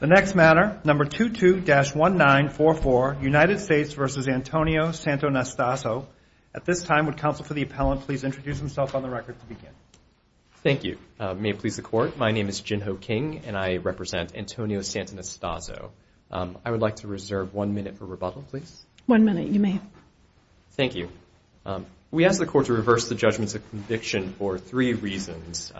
The next matter, number 22-1944, United States v. Antonio Santonastaso. At this time, would counsel for the appellant please introduce himself on the record to begin. Thank you. May it please the court, my name is Jin Ho King and I represent Antonio Santonastaso. I would like to reserve one minute for rebuttal, please. One minute, you may. Thank you. We ask the court to reverse the judgments of conviction for three reasons.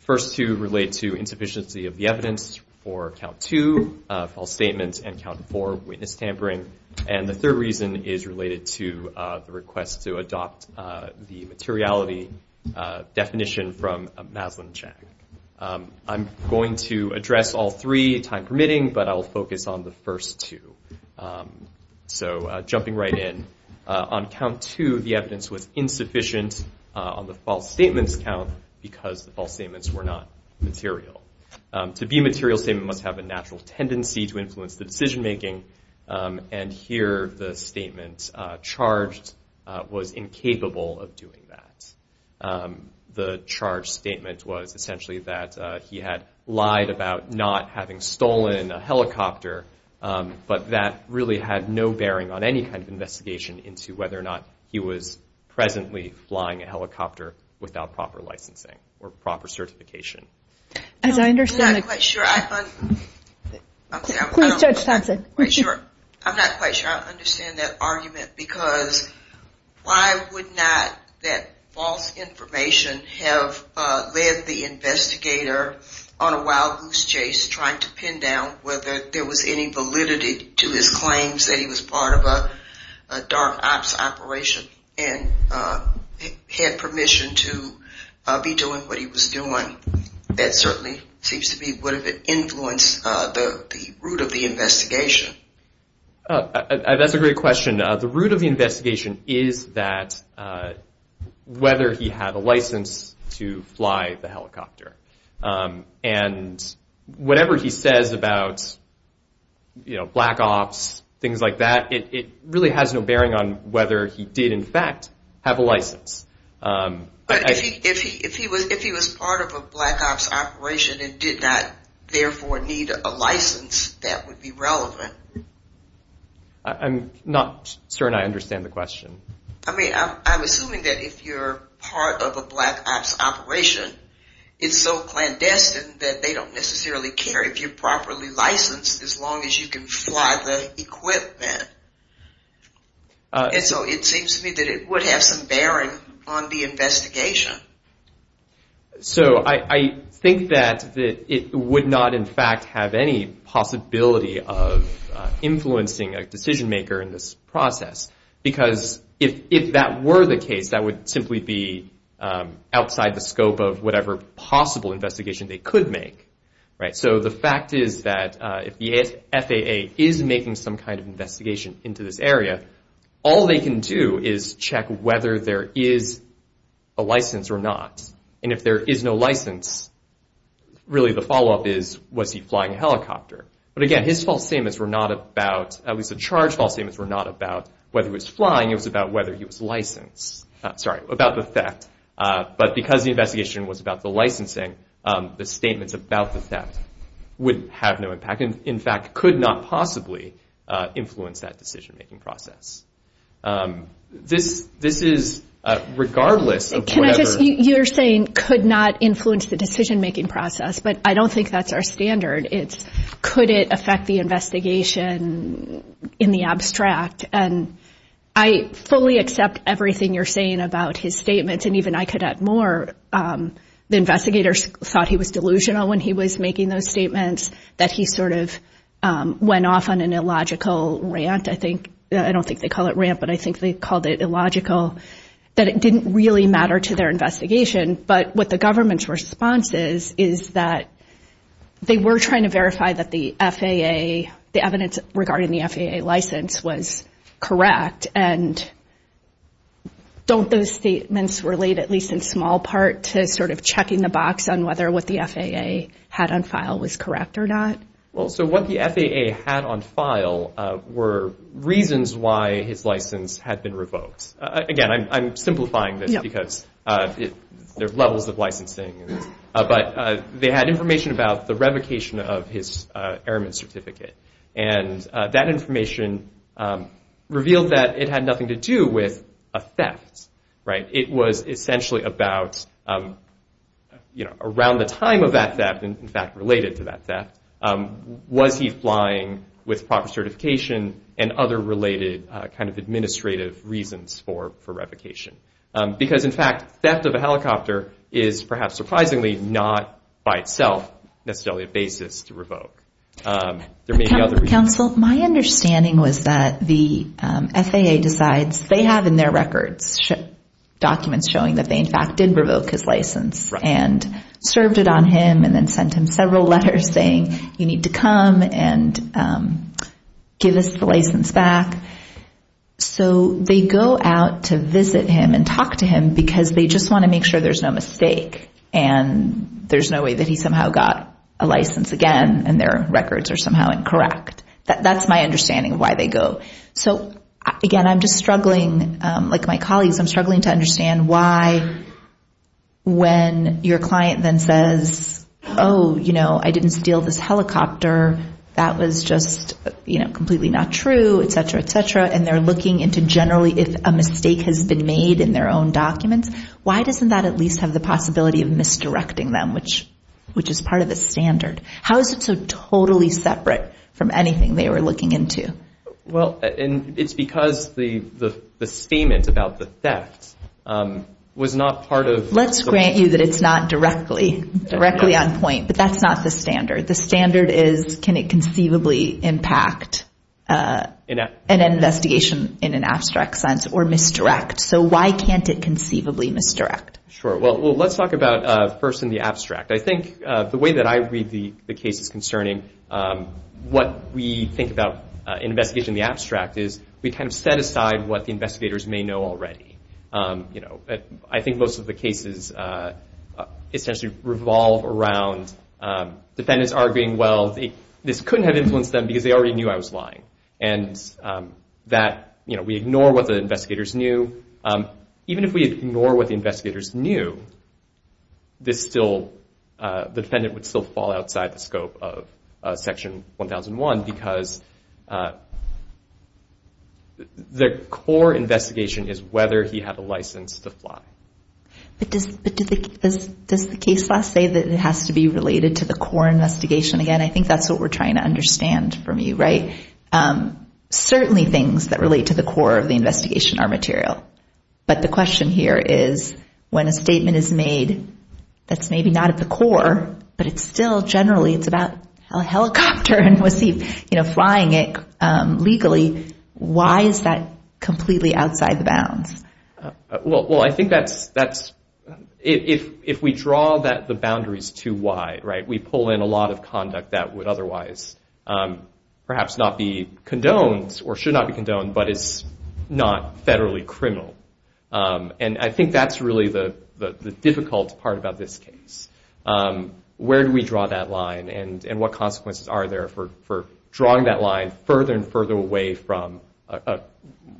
First two relate to insufficiency of the evidence for count two, false statements, and count four, witness tampering. And the third reason is related to the request to adopt the materiality definition from Maslin-Chang. I'm going to address all three, time permitting, but I will focus on the first two. So jumping right in. On count two, the evidence was insufficient on the false statements count because the false statements were not material. To be a material statement must have a natural tendency to influence the decision making. And here the statement charged was incapable of doing that. The charge statement was essentially that he had lied about not having stolen a helicopter, but that really had no bearing on any kind of investigation into whether or not he was presently flying a helicopter without proper licensing or proper certification. I'm not quite sure I understand that argument because why would not that false information have led the investigator on a wild goose chase trying to pin down whether there was any validity to his claims that he was part of a dark ops operation and had permission to be doing what he was doing. That certainly seems to be what influenced the root of the investigation. That's a great question. The root of the investigation is that whether he had a license to fly the helicopter. And whatever he says about black ops, things like that, it really has no bearing on whether he did in fact have a license. If he was part of a black ops operation and did not therefore need a license, that would be relevant. I'm not certain I understand the question. I'm assuming that if you're part of a black ops operation, it's so clandestine that they don't necessarily care if you're properly licensed as long as you can fly the equipment. And so it seems to me that it would have some bearing on the investigation. So I think that it would not in fact have any possibility of influencing a decision maker in this process. Because if that were the case, that would simply be outside the scope of whatever possible investigation they could make. So the fact is that if the FAA is making some kind of investigation into this area, all they can do is check whether there is a license or not. And if there is no license, really the follow-up is, was he flying a helicopter? But again, his false statements were not about, at least the charge false statements were not about whether he was flying. It was about whether he was licensed. Sorry, about the theft. But because the investigation was about the licensing, the statements about the theft would have no impact. In fact, could not possibly influence that decision making process. This is regardless of whatever. You're saying could not influence the decision making process, but I don't think that's our standard. It's could it affect the investigation in the abstract? And I fully accept everything you're saying about his statements, and even I could add more. The investigators thought he was delusional when he was making those statements, that he sort of went off on an illogical rant, I think. I don't think they call it rant, but I think they called it illogical. That it didn't really matter to their investigation. But what the government's response is, is that they were trying to verify that the FAA, the evidence regarding the FAA license was correct. And don't those statements relate, at least in small part, to sort of checking the box on whether what the FAA had on file was correct or not? Well, so what the FAA had on file were reasons why his license had been revoked. Again, I'm simplifying this because there are levels of licensing. But they had information about the revocation of his airman certificate. And that information revealed that it had nothing to do with a theft. It was essentially about around the time of that theft, in fact related to that theft, was he flying with proper certification and other related kind of administrative reasons for revocation. Because, in fact, theft of a helicopter is perhaps surprisingly not by itself necessarily a basis to revoke. There may be other reasons. Counsel, my understanding was that the FAA decides they have in their records documents showing that they in fact did revoke his license. And served it on him and then sent him several letters saying you need to come and give us the license back. So they go out to visit him and talk to him because they just want to make sure there's no mistake. And there's no way that he somehow got a license again and their records are somehow incorrect. That's my understanding of why they go. So, again, I'm just struggling, like my colleagues, I'm struggling to understand why when your client then says, oh, you know, I didn't steal this helicopter, that was just, you know, completely not true, et cetera, et cetera, and they're looking into generally if a mistake has been made in their own documents, why doesn't that at least have the possibility of misdirecting them, which is part of the standard? How is it so totally separate from anything they were looking into? Well, and it's because the statement about the theft was not part of. Let's grant you that it's not directly on point, but that's not the standard. The standard is can it conceivably impact an investigation in an abstract sense or misdirect? So why can't it conceivably misdirect? Sure. Well, let's talk about first in the abstract. I think the way that I read the cases concerning what we think about an investigation in the abstract is we kind of set aside what the investigators may know already. You know, I think most of the cases essentially revolve around defendants arguing, well, this couldn't have influenced them because they already knew I was lying and that, you know, we ignore what the investigators knew. Even if we ignore what the investigators knew, the defendant would still fall outside the scope of Section 1001 because the core investigation is whether he had a license to fly. But does the case law say that it has to be related to the core investigation? Again, I think that's what we're trying to understand from you, right? Certainly things that relate to the core of the investigation are material, but the question here is when a statement is made that's maybe not at the core, but it's still generally it's about a helicopter and was he flying it legally, why is that completely outside the bounds? Well, I think that's – if we draw the boundaries to why, right, we pull in a lot of conduct that would otherwise perhaps not be condoned or should not be condoned but is not federally criminal. And I think that's really the difficult part about this case. Where do we draw that line and what consequences are there for drawing that line further and further away from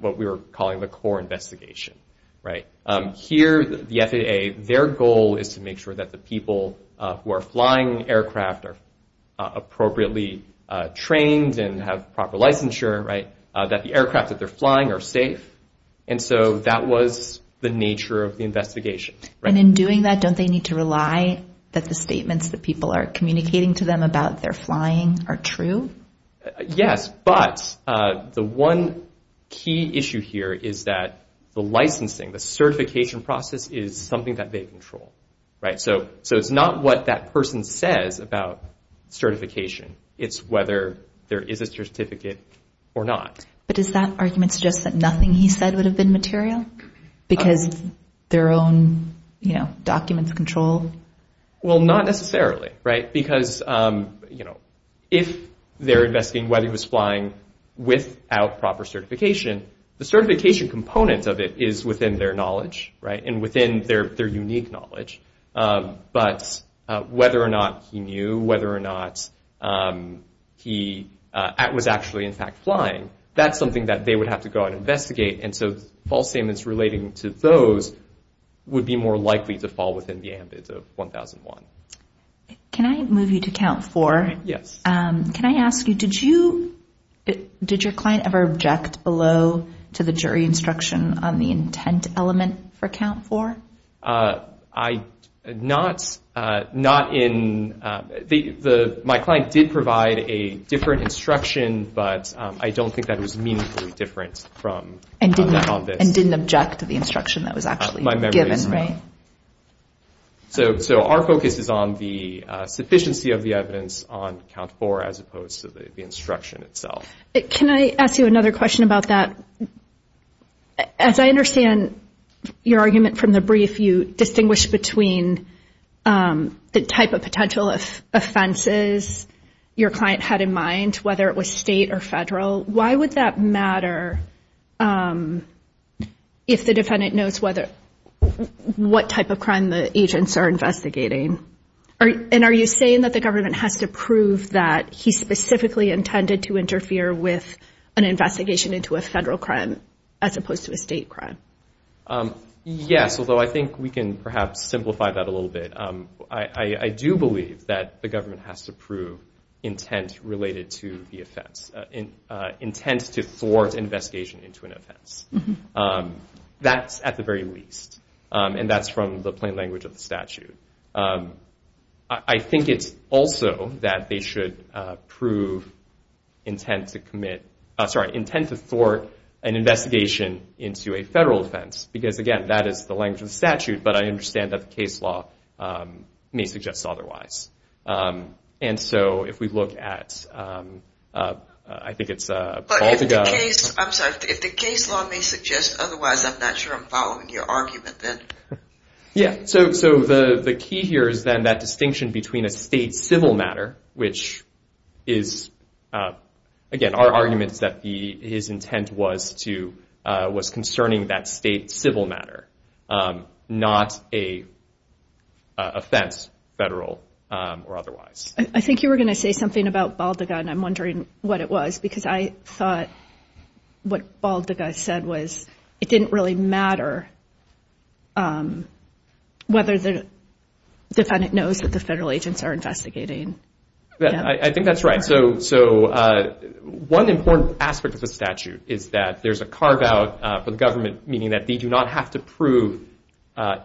what we were calling the core investigation, right? Here, the FAA, their goal is to make sure that the people who are flying aircraft are appropriately trained and have proper licensure, right, that the aircraft that they're flying are safe. And so that was the nature of the investigation. And in doing that, don't they need to rely that the statements that people are communicating to them about their flying are true? Yes, but the one key issue here is that the licensing, the certification process is something that they control, right? So it's not what that person says about certification. It's whether there is a certificate or not. But does that argument suggest that nothing he said would have been material? Because their own, you know, documents control? Well, not necessarily, right? Because, you know, if they're investigating whether he was flying without proper certification, the certification component of it is within their knowledge, right, and within their unique knowledge. But whether or not he knew, whether or not he was actually, in fact, flying, that's something that they would have to go and investigate. And so false statements relating to those would be more likely to fall within the ambit of 1001. Can I move you to count four? Yes. Can I ask you, did you, did your client ever object below to the jury instruction on the intent element for count four? I, not, not in, the, my client did provide a different instruction, but I don't think that it was meaningfully different from this. And didn't object to the instruction that was actually given, right? My memory is not. So our focus is on the sufficiency of the evidence on count four as opposed to the instruction itself. Can I ask you another question about that? As I understand your argument from the brief, if you distinguish between the type of potential offenses your client had in mind, whether it was state or federal, why would that matter if the defendant knows whether, what type of crime the agents are investigating? And are you saying that the government has to prove that he specifically intended to interfere with an investigation into a federal crime as opposed to a state crime? Yes, although I think we can perhaps simplify that a little bit. I do believe that the government has to prove intent related to the offense, intent to thwart an investigation into an offense. That's at the very least, and that's from the plain language of the statute. I think it's also that they should prove intent to commit, sorry, intent to thwart an investigation into a federal offense. Because again, that is the language of the statute. But I understand that the case law may suggest otherwise. And so if we look at, I think it's, I'm sorry, if the case law may suggest otherwise, I'm not sure I'm following your argument then. Yeah, so the key here is then that distinction between a state civil matter, which is, again, our argument is that his intent was concerning that state civil matter, not a offense, federal or otherwise. I think you were going to say something about Baldaga, and I'm wondering what it was. Because I thought what Baldaga said was it didn't really matter whether the defendant knows that the federal agents are investigating. I think that's right. So one important aspect of the statute is that there's a carve out for the government, meaning that they do not have to prove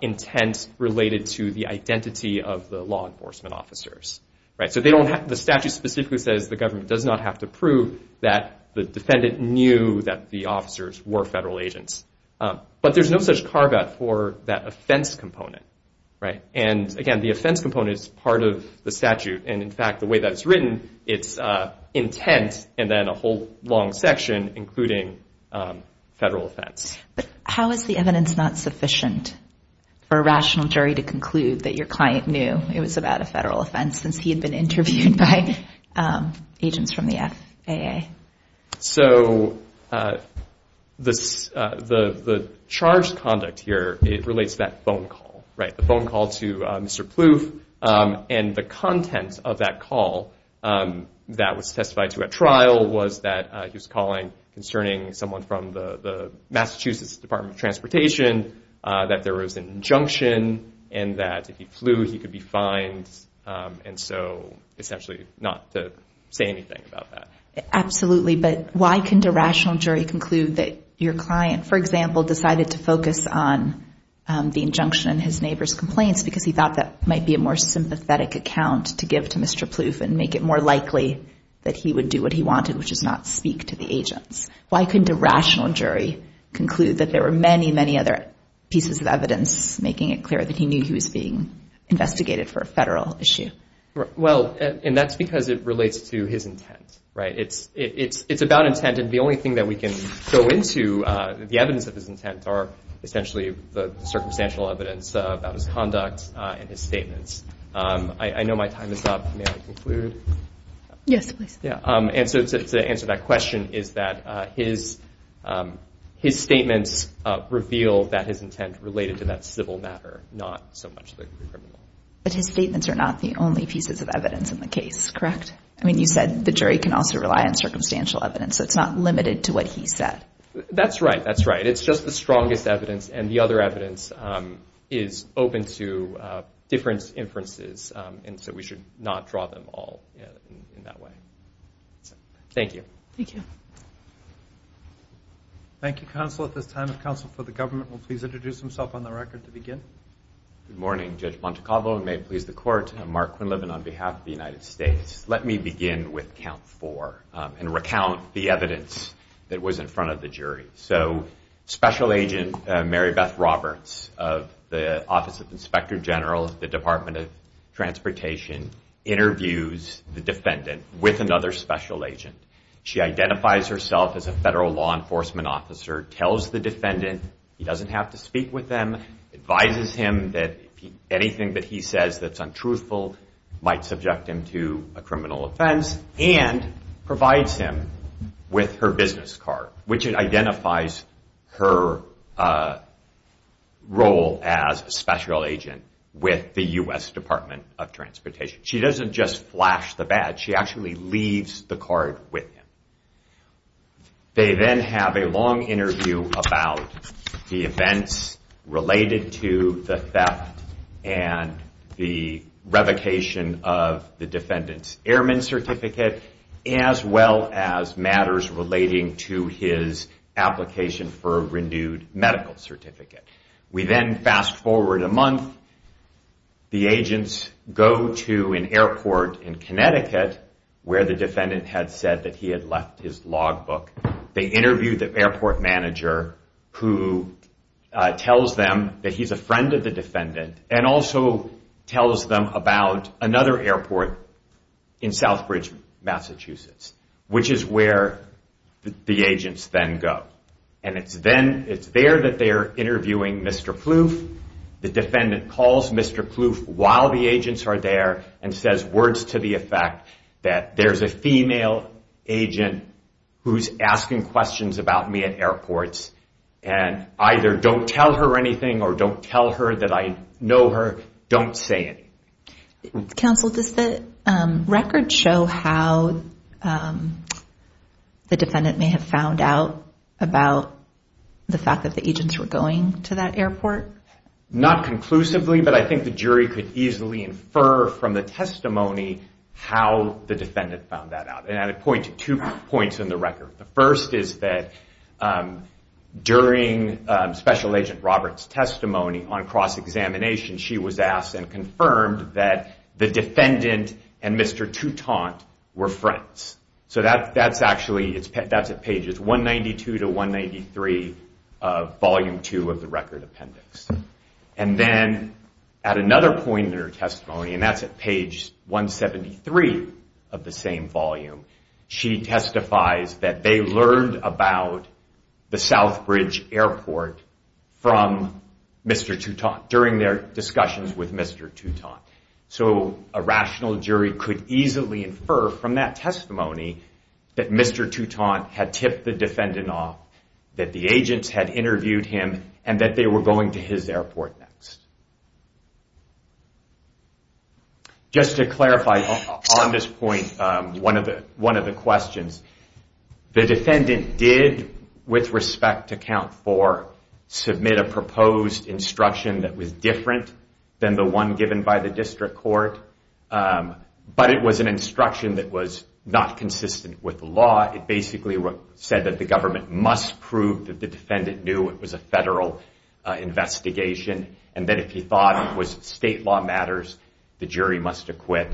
intent related to the identity of the law enforcement officers. The statute specifically says the government does not have to prove that the defendant knew that the officers were federal agents. But there's no such carve out for that offense component. And again, the offense component is part of the statute. And in fact, the way that it's written, it's intent and then a whole long section including federal offense. But how is the evidence not sufficient for a rational jury to conclude that your client knew it was about a federal offense since he had been interviewed by agents from the FAA? So the charged conduct here, it relates to that phone call, right, the phone call to Mr. Plouffe. And the content of that call that was testified to at trial was that he was calling concerning someone from the Massachusetts Department of Transportation, that there was an injunction, and that if he flew, he could be fined. And so essentially not to say anything about that. Absolutely. But why couldn't a rational jury conclude that your client, for example, decided to focus on the injunction and his neighbor's complaints because he thought that might be a more sympathetic account to give to Mr. Plouffe and make it more likely that he would do what he wanted, which is not speak to the agents? Why couldn't a rational jury conclude that there were many, many other pieces of evidence making it clear that he knew he was being investigated for a federal issue? Well, and that's because it relates to his intent, right? It's about intent, and the only thing that we can go into the evidence of his intent are essentially the circumstantial evidence about his conduct and his statements. I know my time is up. May I conclude? Yes, please. And so to answer that question is that his statements reveal that his intent related to that civil matter, not so much the criminal. But his statements are not the only pieces of evidence in the case, correct? I mean, you said the jury can also rely on circumstantial evidence. It's not limited to what he said. That's right. That's right. It's just the strongest evidence, and the other evidence is open to different inferences, and so we should not draw them all in that way. Thank you. Thank you. Thank you, counsel. At this time, the counsel for the government will please introduce himself on the record to begin. Good morning, Judge Montecalvo, and may it please the Court, I'm Mark Quinlivan on behalf of the United States. Let me begin with count four and recount the evidence that was in front of the jury. So Special Agent Mary Beth Roberts of the Office of the Inspector General of the Department of Transportation interviews the defendant with another special agent. She identifies herself as a federal law enforcement officer, tells the defendant he doesn't have to speak with them, advises him that anything that he says that's untruthful might subject him to a criminal offense, and provides him with her business card, which identifies her role as a special agent with the U.S. Department of Transportation. She doesn't just flash the badge. She actually leaves the card with him. They then have a long interview about the events related to the theft and the revocation of the defendant's airman certificate, as well as matters relating to his application for a renewed medical certificate. We then fast forward a month. The agents go to an airport in Connecticut where the defendant had said that he had left his logbook. They interview the airport manager who tells them that he's a friend of the defendant and also tells them about another airport in Southbridge, Massachusetts, which is where the agents then go. It's there that they're interviewing Mr. Kloof. The defendant calls Mr. Kloof while the agents are there and says words to the effect that there's a female agent who's asking questions about me at airports, and either don't tell her anything or don't tell her that I know her. Don't say anything. Counsel, does the record show how the defendant may have found out about the fact that the agents were going to that airport? Not conclusively, but I think the jury could easily infer from the testimony how the defendant found that out. And I'd point to two points in the record. The first is that during Special Agent Roberts' testimony on cross-examination, she was asked and confirmed that the defendant and Mr. Toutant were friends. So that's at pages 192 to 193 of Volume 2 of the record appendix. And then at another point in her testimony, and that's at page 173 of the same volume, she testifies that they learned about the Southbridge Airport from Mr. Toutant, during their discussions with Mr. Toutant. So a rational jury could easily infer from that testimony that Mr. Toutant had tipped the defendant off, that the agents had interviewed him, and that they were going to his airport next. Just to clarify on this point, one of the questions, the defendant did, with respect to Count 4, submit a proposed instruction that was different than the one given by the District Court. But it was an instruction that was not consistent with the law. It basically said that the government must prove that the defendant knew it was a federal investigation, and that if he thought it was state law matters, the jury must acquit.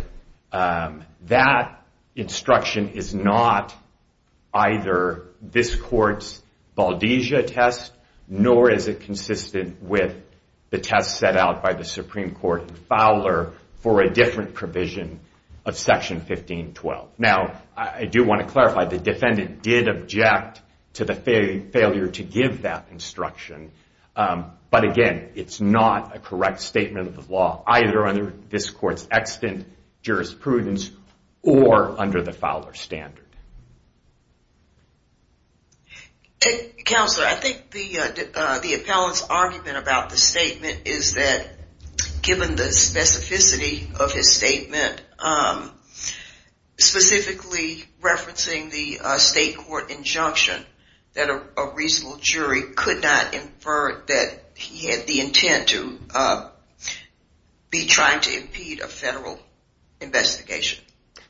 That instruction is not either this court's Baldesia test, nor is it consistent with the test set out by the Supreme Court in Fowler for a different provision of Section 1512. Now, I do want to clarify, the defendant did object to the failure to give that instruction. But again, it's not a correct statement of the law, either under this court's extant jurisprudence, or under the Fowler standard. Counselor, I think the appellant's argument about the statement is that, given the specificity of his statement, specifically referencing the state court injunction, that a reasonable jury could not infer that he had the intent to be trying to impede a federal investigation.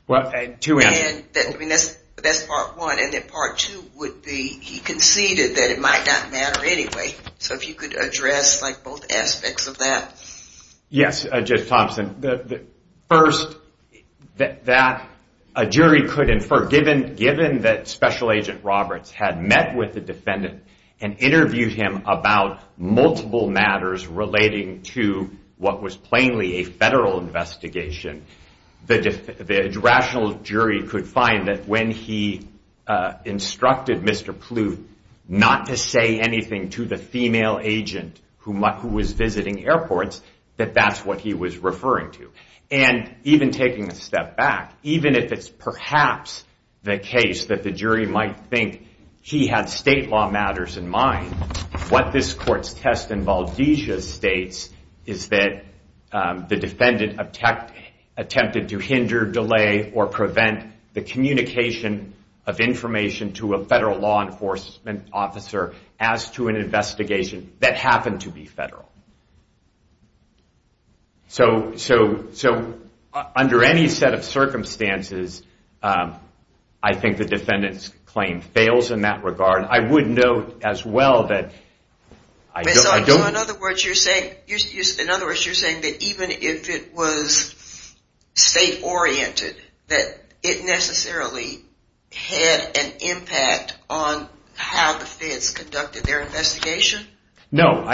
Well, two answers. That's part one, and part two would be, he conceded that it might not matter anyway. So if you could address both aspects of that. Yes, Judge Thompson. First, that a jury could infer, given that Special Agent Roberts had met with the defendant and interviewed him about multiple matters relating to what was plainly a federal investigation, the rational jury could find that when he instructed Mr. Pluth not to say anything to the female agent who was visiting airports, that that's what he was referring to. And even taking a step back, even if it's perhaps the case that the jury might think he had state law matters in mind, what this court's test in Baldesia states is that the defendant attempted to hinder, delay, or prevent the communication of information to a federal law enforcement officer as to an investigation that happened to be federal. So under any set of circumstances, I think the defendant's claim fails in that regard. I would note as well that... In other words, you're saying that even if it was state-oriented, that it necessarily had an impact on how the feds conducted their investigation? No,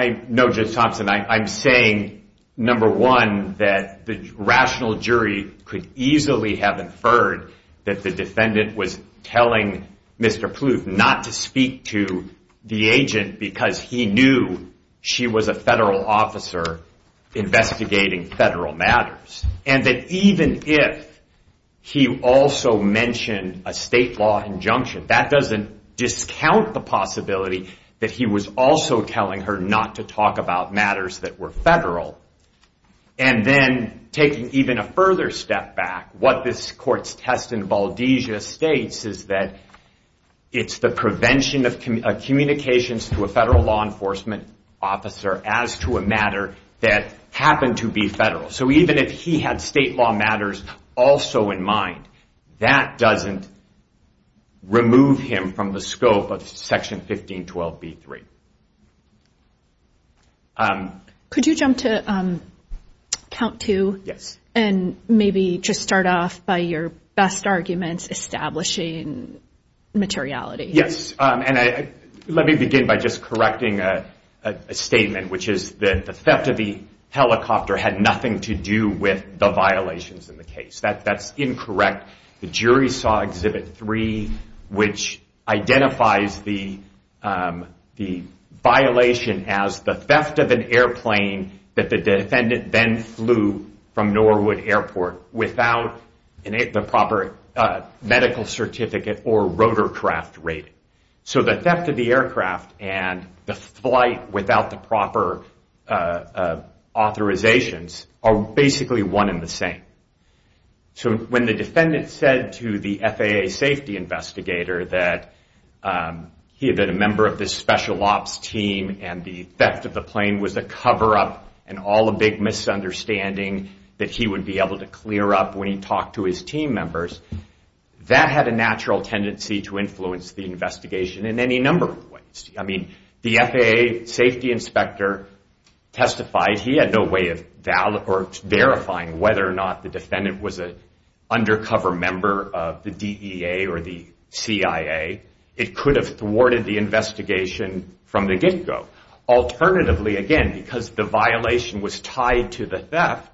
Judge Thompson. I'm saying, number one, that the rational jury could easily have inferred that the defendant was telling Mr. Pluth not to speak to the agent because he knew she was a federal officer investigating federal matters. And that even if he also mentioned a state law injunction, that doesn't discount the possibility that he was also telling her not to talk about matters that were federal. And then taking even a further step back, what this court's test in Baldesia states is that it's the prevention of communications to a federal law enforcement officer as to a matter that happened to be federal. So even if he had state law matters also in mind, that doesn't remove him from the scope of Section 1512b3. Could you jump to count two? Yes. And maybe just start off by your best arguments establishing materiality. And let me begin by just correcting a statement, which is that the theft of the helicopter had nothing to do with the violations in the case. That's incorrect. The jury saw Exhibit 3, which identifies the violation as the theft of an airplane that the defendant then flew from Norwood Airport without the proper medical certificate or rotorcraft rating. So the theft of the aircraft and the flight without the proper authorizations are basically one and the same. So when the defendant said to the FAA safety investigator that he had been a member of this special ops team and the theft of the plane was a cover-up and all a big misunderstanding that he would be able to clear up when he talked to his team members, that had a natural tendency to influence the investigation in any number of ways. I mean, the FAA safety inspector testified he had no way of verifying whether or not the defendant was an undercover member of the DEA or the CIA. It could have thwarted the investigation from the get-go. Alternatively, again, because the violation was tied to the theft,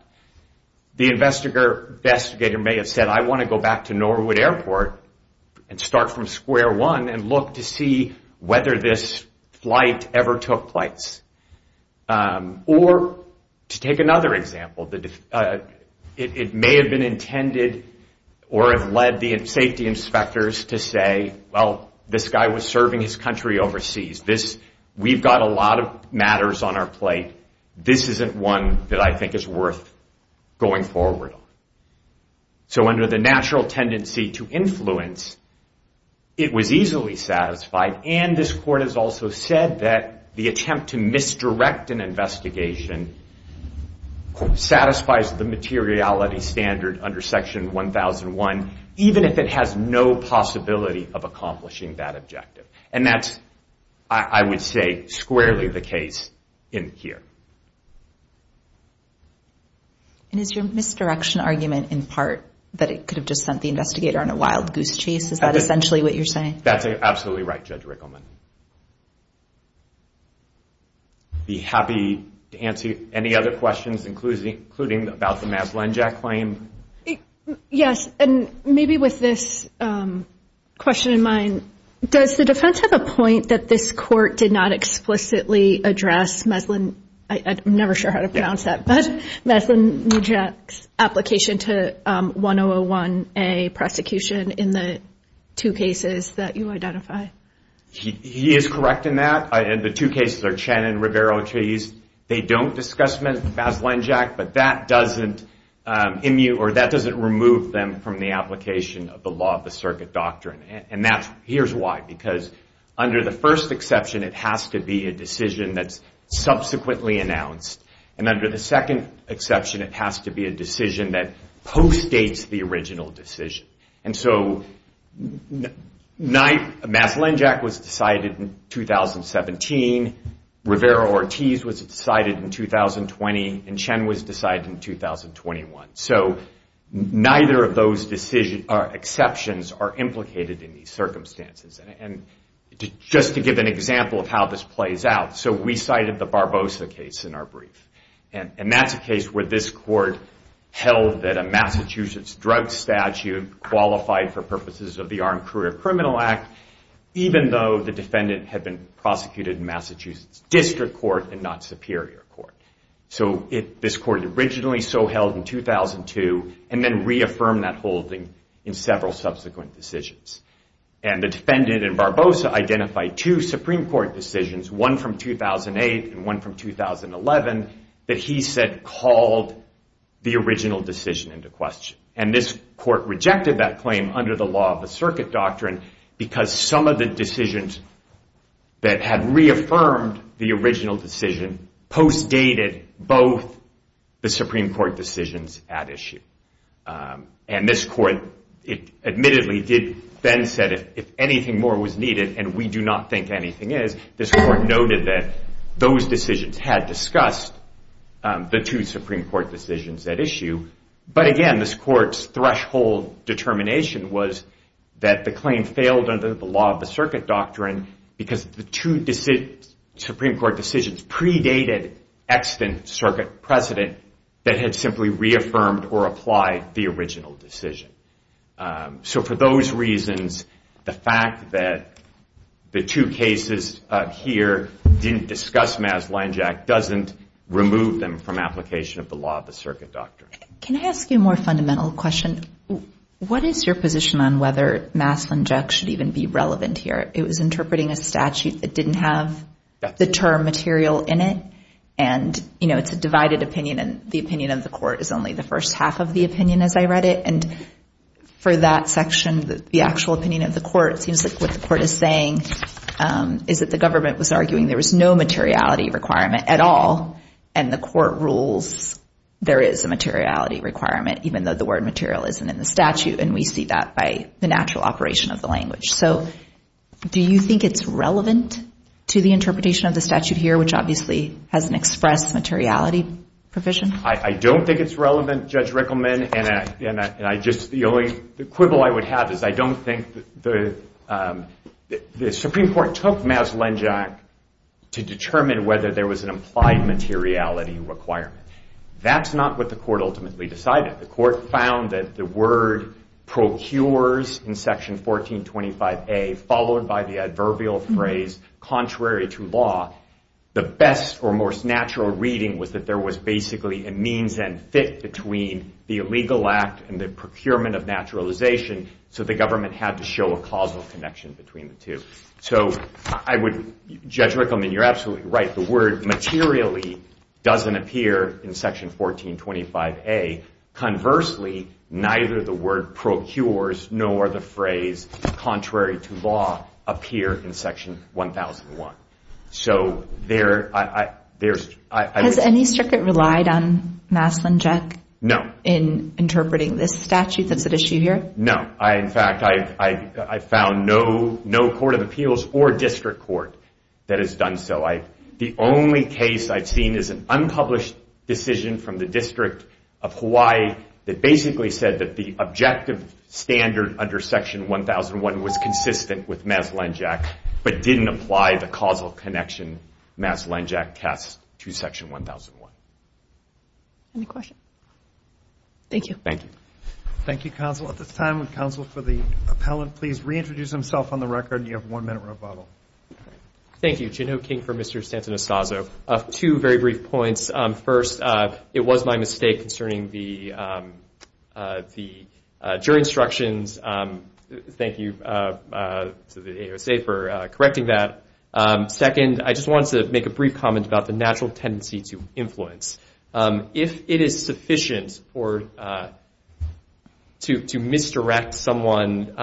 the investigator may have said, I want to go back to Norwood Airport and start from square one and look to see whether this flight ever took place. Or to take another example, it may have been intended or have led the safety inspectors to say, well, this guy was serving his country overseas. We've got a lot of matters on our plate. This isn't one that I think is worth going forward on. So under the natural tendency to influence, it was easily satisfied and this court has also said that the attempt to misdirect an investigation satisfies the materiality standard under Section 1001, even if it has no possibility of accomplishing that objective. And that's, I would say, squarely the case in here. And is your misdirection argument in part that it could have just sent the investigator on a wild goose chase? Is that essentially what you're saying? That's absolutely right, Judge Rickleman. I'd be happy to answer any other questions, including about the Mads Lenjack claim. Yes, and maybe with this question in mind, does the defense have a point that this court did not explicitly address Mads Lenjack's application to 1001A prosecution in the two cases that you identify? He is correct in that. The two cases are Chen and Rivero. They don't discuss Mads Lenjack, but that doesn't remove them from the application of the law of the circuit doctrine. And here's why. Because under the first exception, it has to be a decision that's subsequently announced. And under the second exception, it has to be a decision that postdates the original decision. And so Mads Lenjack was decided in 2017, Rivero Ortiz was decided in 2020, and Chen was decided in 2021. So neither of those exceptions are implicated in these circumstances. And just to give an example of how this plays out, so we cited the Barbosa case in our brief. And that's a case where this court held that a Massachusetts drug statute qualified for purposes of the Armed Career Criminal Act, even though the defendant had been prosecuted in Massachusetts District Court and not Superior Court. So this court originally so held in 2002 and then reaffirmed that holding in several subsequent decisions. And the defendant in Barbosa identified two Supreme Court decisions, one from 2008 and one from 2011, that he said called the original decision into question. And this court rejected that claim under the law of the circuit doctrine because some of the decisions that had reaffirmed the original decision postdated both the Supreme Court decisions at issue. And this court admittedly then said if anything more was needed, and we do not think anything is, this court noted that those decisions had discussed the two Supreme Court decisions at issue. But again, this court's threshold determination was that the claim failed under the law of the circuit doctrine because the two Supreme Court decisions predated extant circuit precedent that had simply reaffirmed or applied the original decision. So for those reasons, the fact that the two cases here didn't discuss Maslin-Jack doesn't remove them from application of the law of the circuit doctrine. Can I ask you a more fundamental question? What is your position on whether Maslin-Jack should even be relevant here? It was interpreting a statute that didn't have the term material in it, and it's a divided opinion, and the opinion of the court is only the first half of the opinion as I read it. And for that section, the actual opinion of the court, it seems like what the court is saying is that the government was arguing there was no materiality requirement at all, and the court rules there is a materiality requirement even though the word material isn't in the statute, and we see that by the natural operation of the language. So do you think it's relevant to the interpretation of the statute here, which obviously has an express materiality provision? I don't think it's relevant, Judge Rickleman, and the only quibble I would have is I don't think the Supreme Court took Maslin-Jack to determine whether there was an implied materiality requirement. That's not what the court ultimately decided. The court found that the word procures in Section 1425A followed by the adverbial phrase contrary to law, the best or most natural reading was that there was basically a means and fit between the illegal act and the procurement of naturalization, so the government had to show a causal connection between the two. So, Judge Rickleman, you're absolutely right. The word materially doesn't appear in Section 1425A Conversely, neither the word procures nor the phrase contrary to law appear in Section 1001. So there's... Has any circuit relied on Maslin-Jack? No. In interpreting this statute that's at issue here? No. In fact, I found no court of appeals or district court that has done so. The only case I've seen is an unpublished decision from the District of Hawaii that basically said that the objective standard under Section 1001 was consistent with Maslin-Jack but didn't apply the causal connection Maslin-Jack cast to Section 1001. Any questions? Thank you. Thank you. Thank you, counsel. At this time, would counsel for the appellant please reintroduce himself on the record? You have one minute rebuttal. Thank you. Geno King for Mr. Santanastazzo. Two very brief points. First, it was my mistake concerning the jury instructions. Thank you to the AUSA for correcting that. Second, I just wanted to make a brief comment about the natural tendency to influence. If it is sufficient to misdirect someone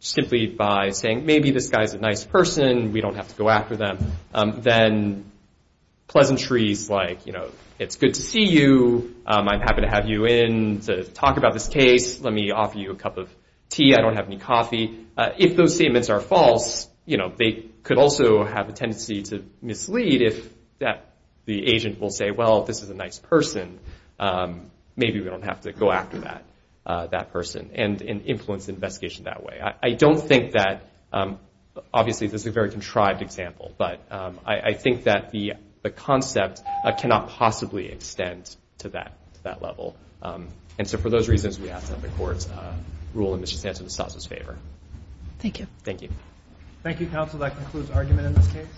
simply by saying, maybe this guy's a nice person, we don't have to go after them, then pleasantries like, it's good to see you, I'm happy to have you in to talk about this case, let me offer you a cup of tea, I don't have any coffee, if those statements are false, they could also have a tendency to mislead if the agent will say, well, this is a nice person, maybe we don't have to go after that person and influence the investigation that way. I don't think that, obviously this is a very contrived example, but I think that the concept cannot possibly extend to that level. And so for those reasons, we ask that the courts rule in Mr. Santanastazzo's favor. Thank you. Thank you. Thank you, counsel. That concludes argument in this case.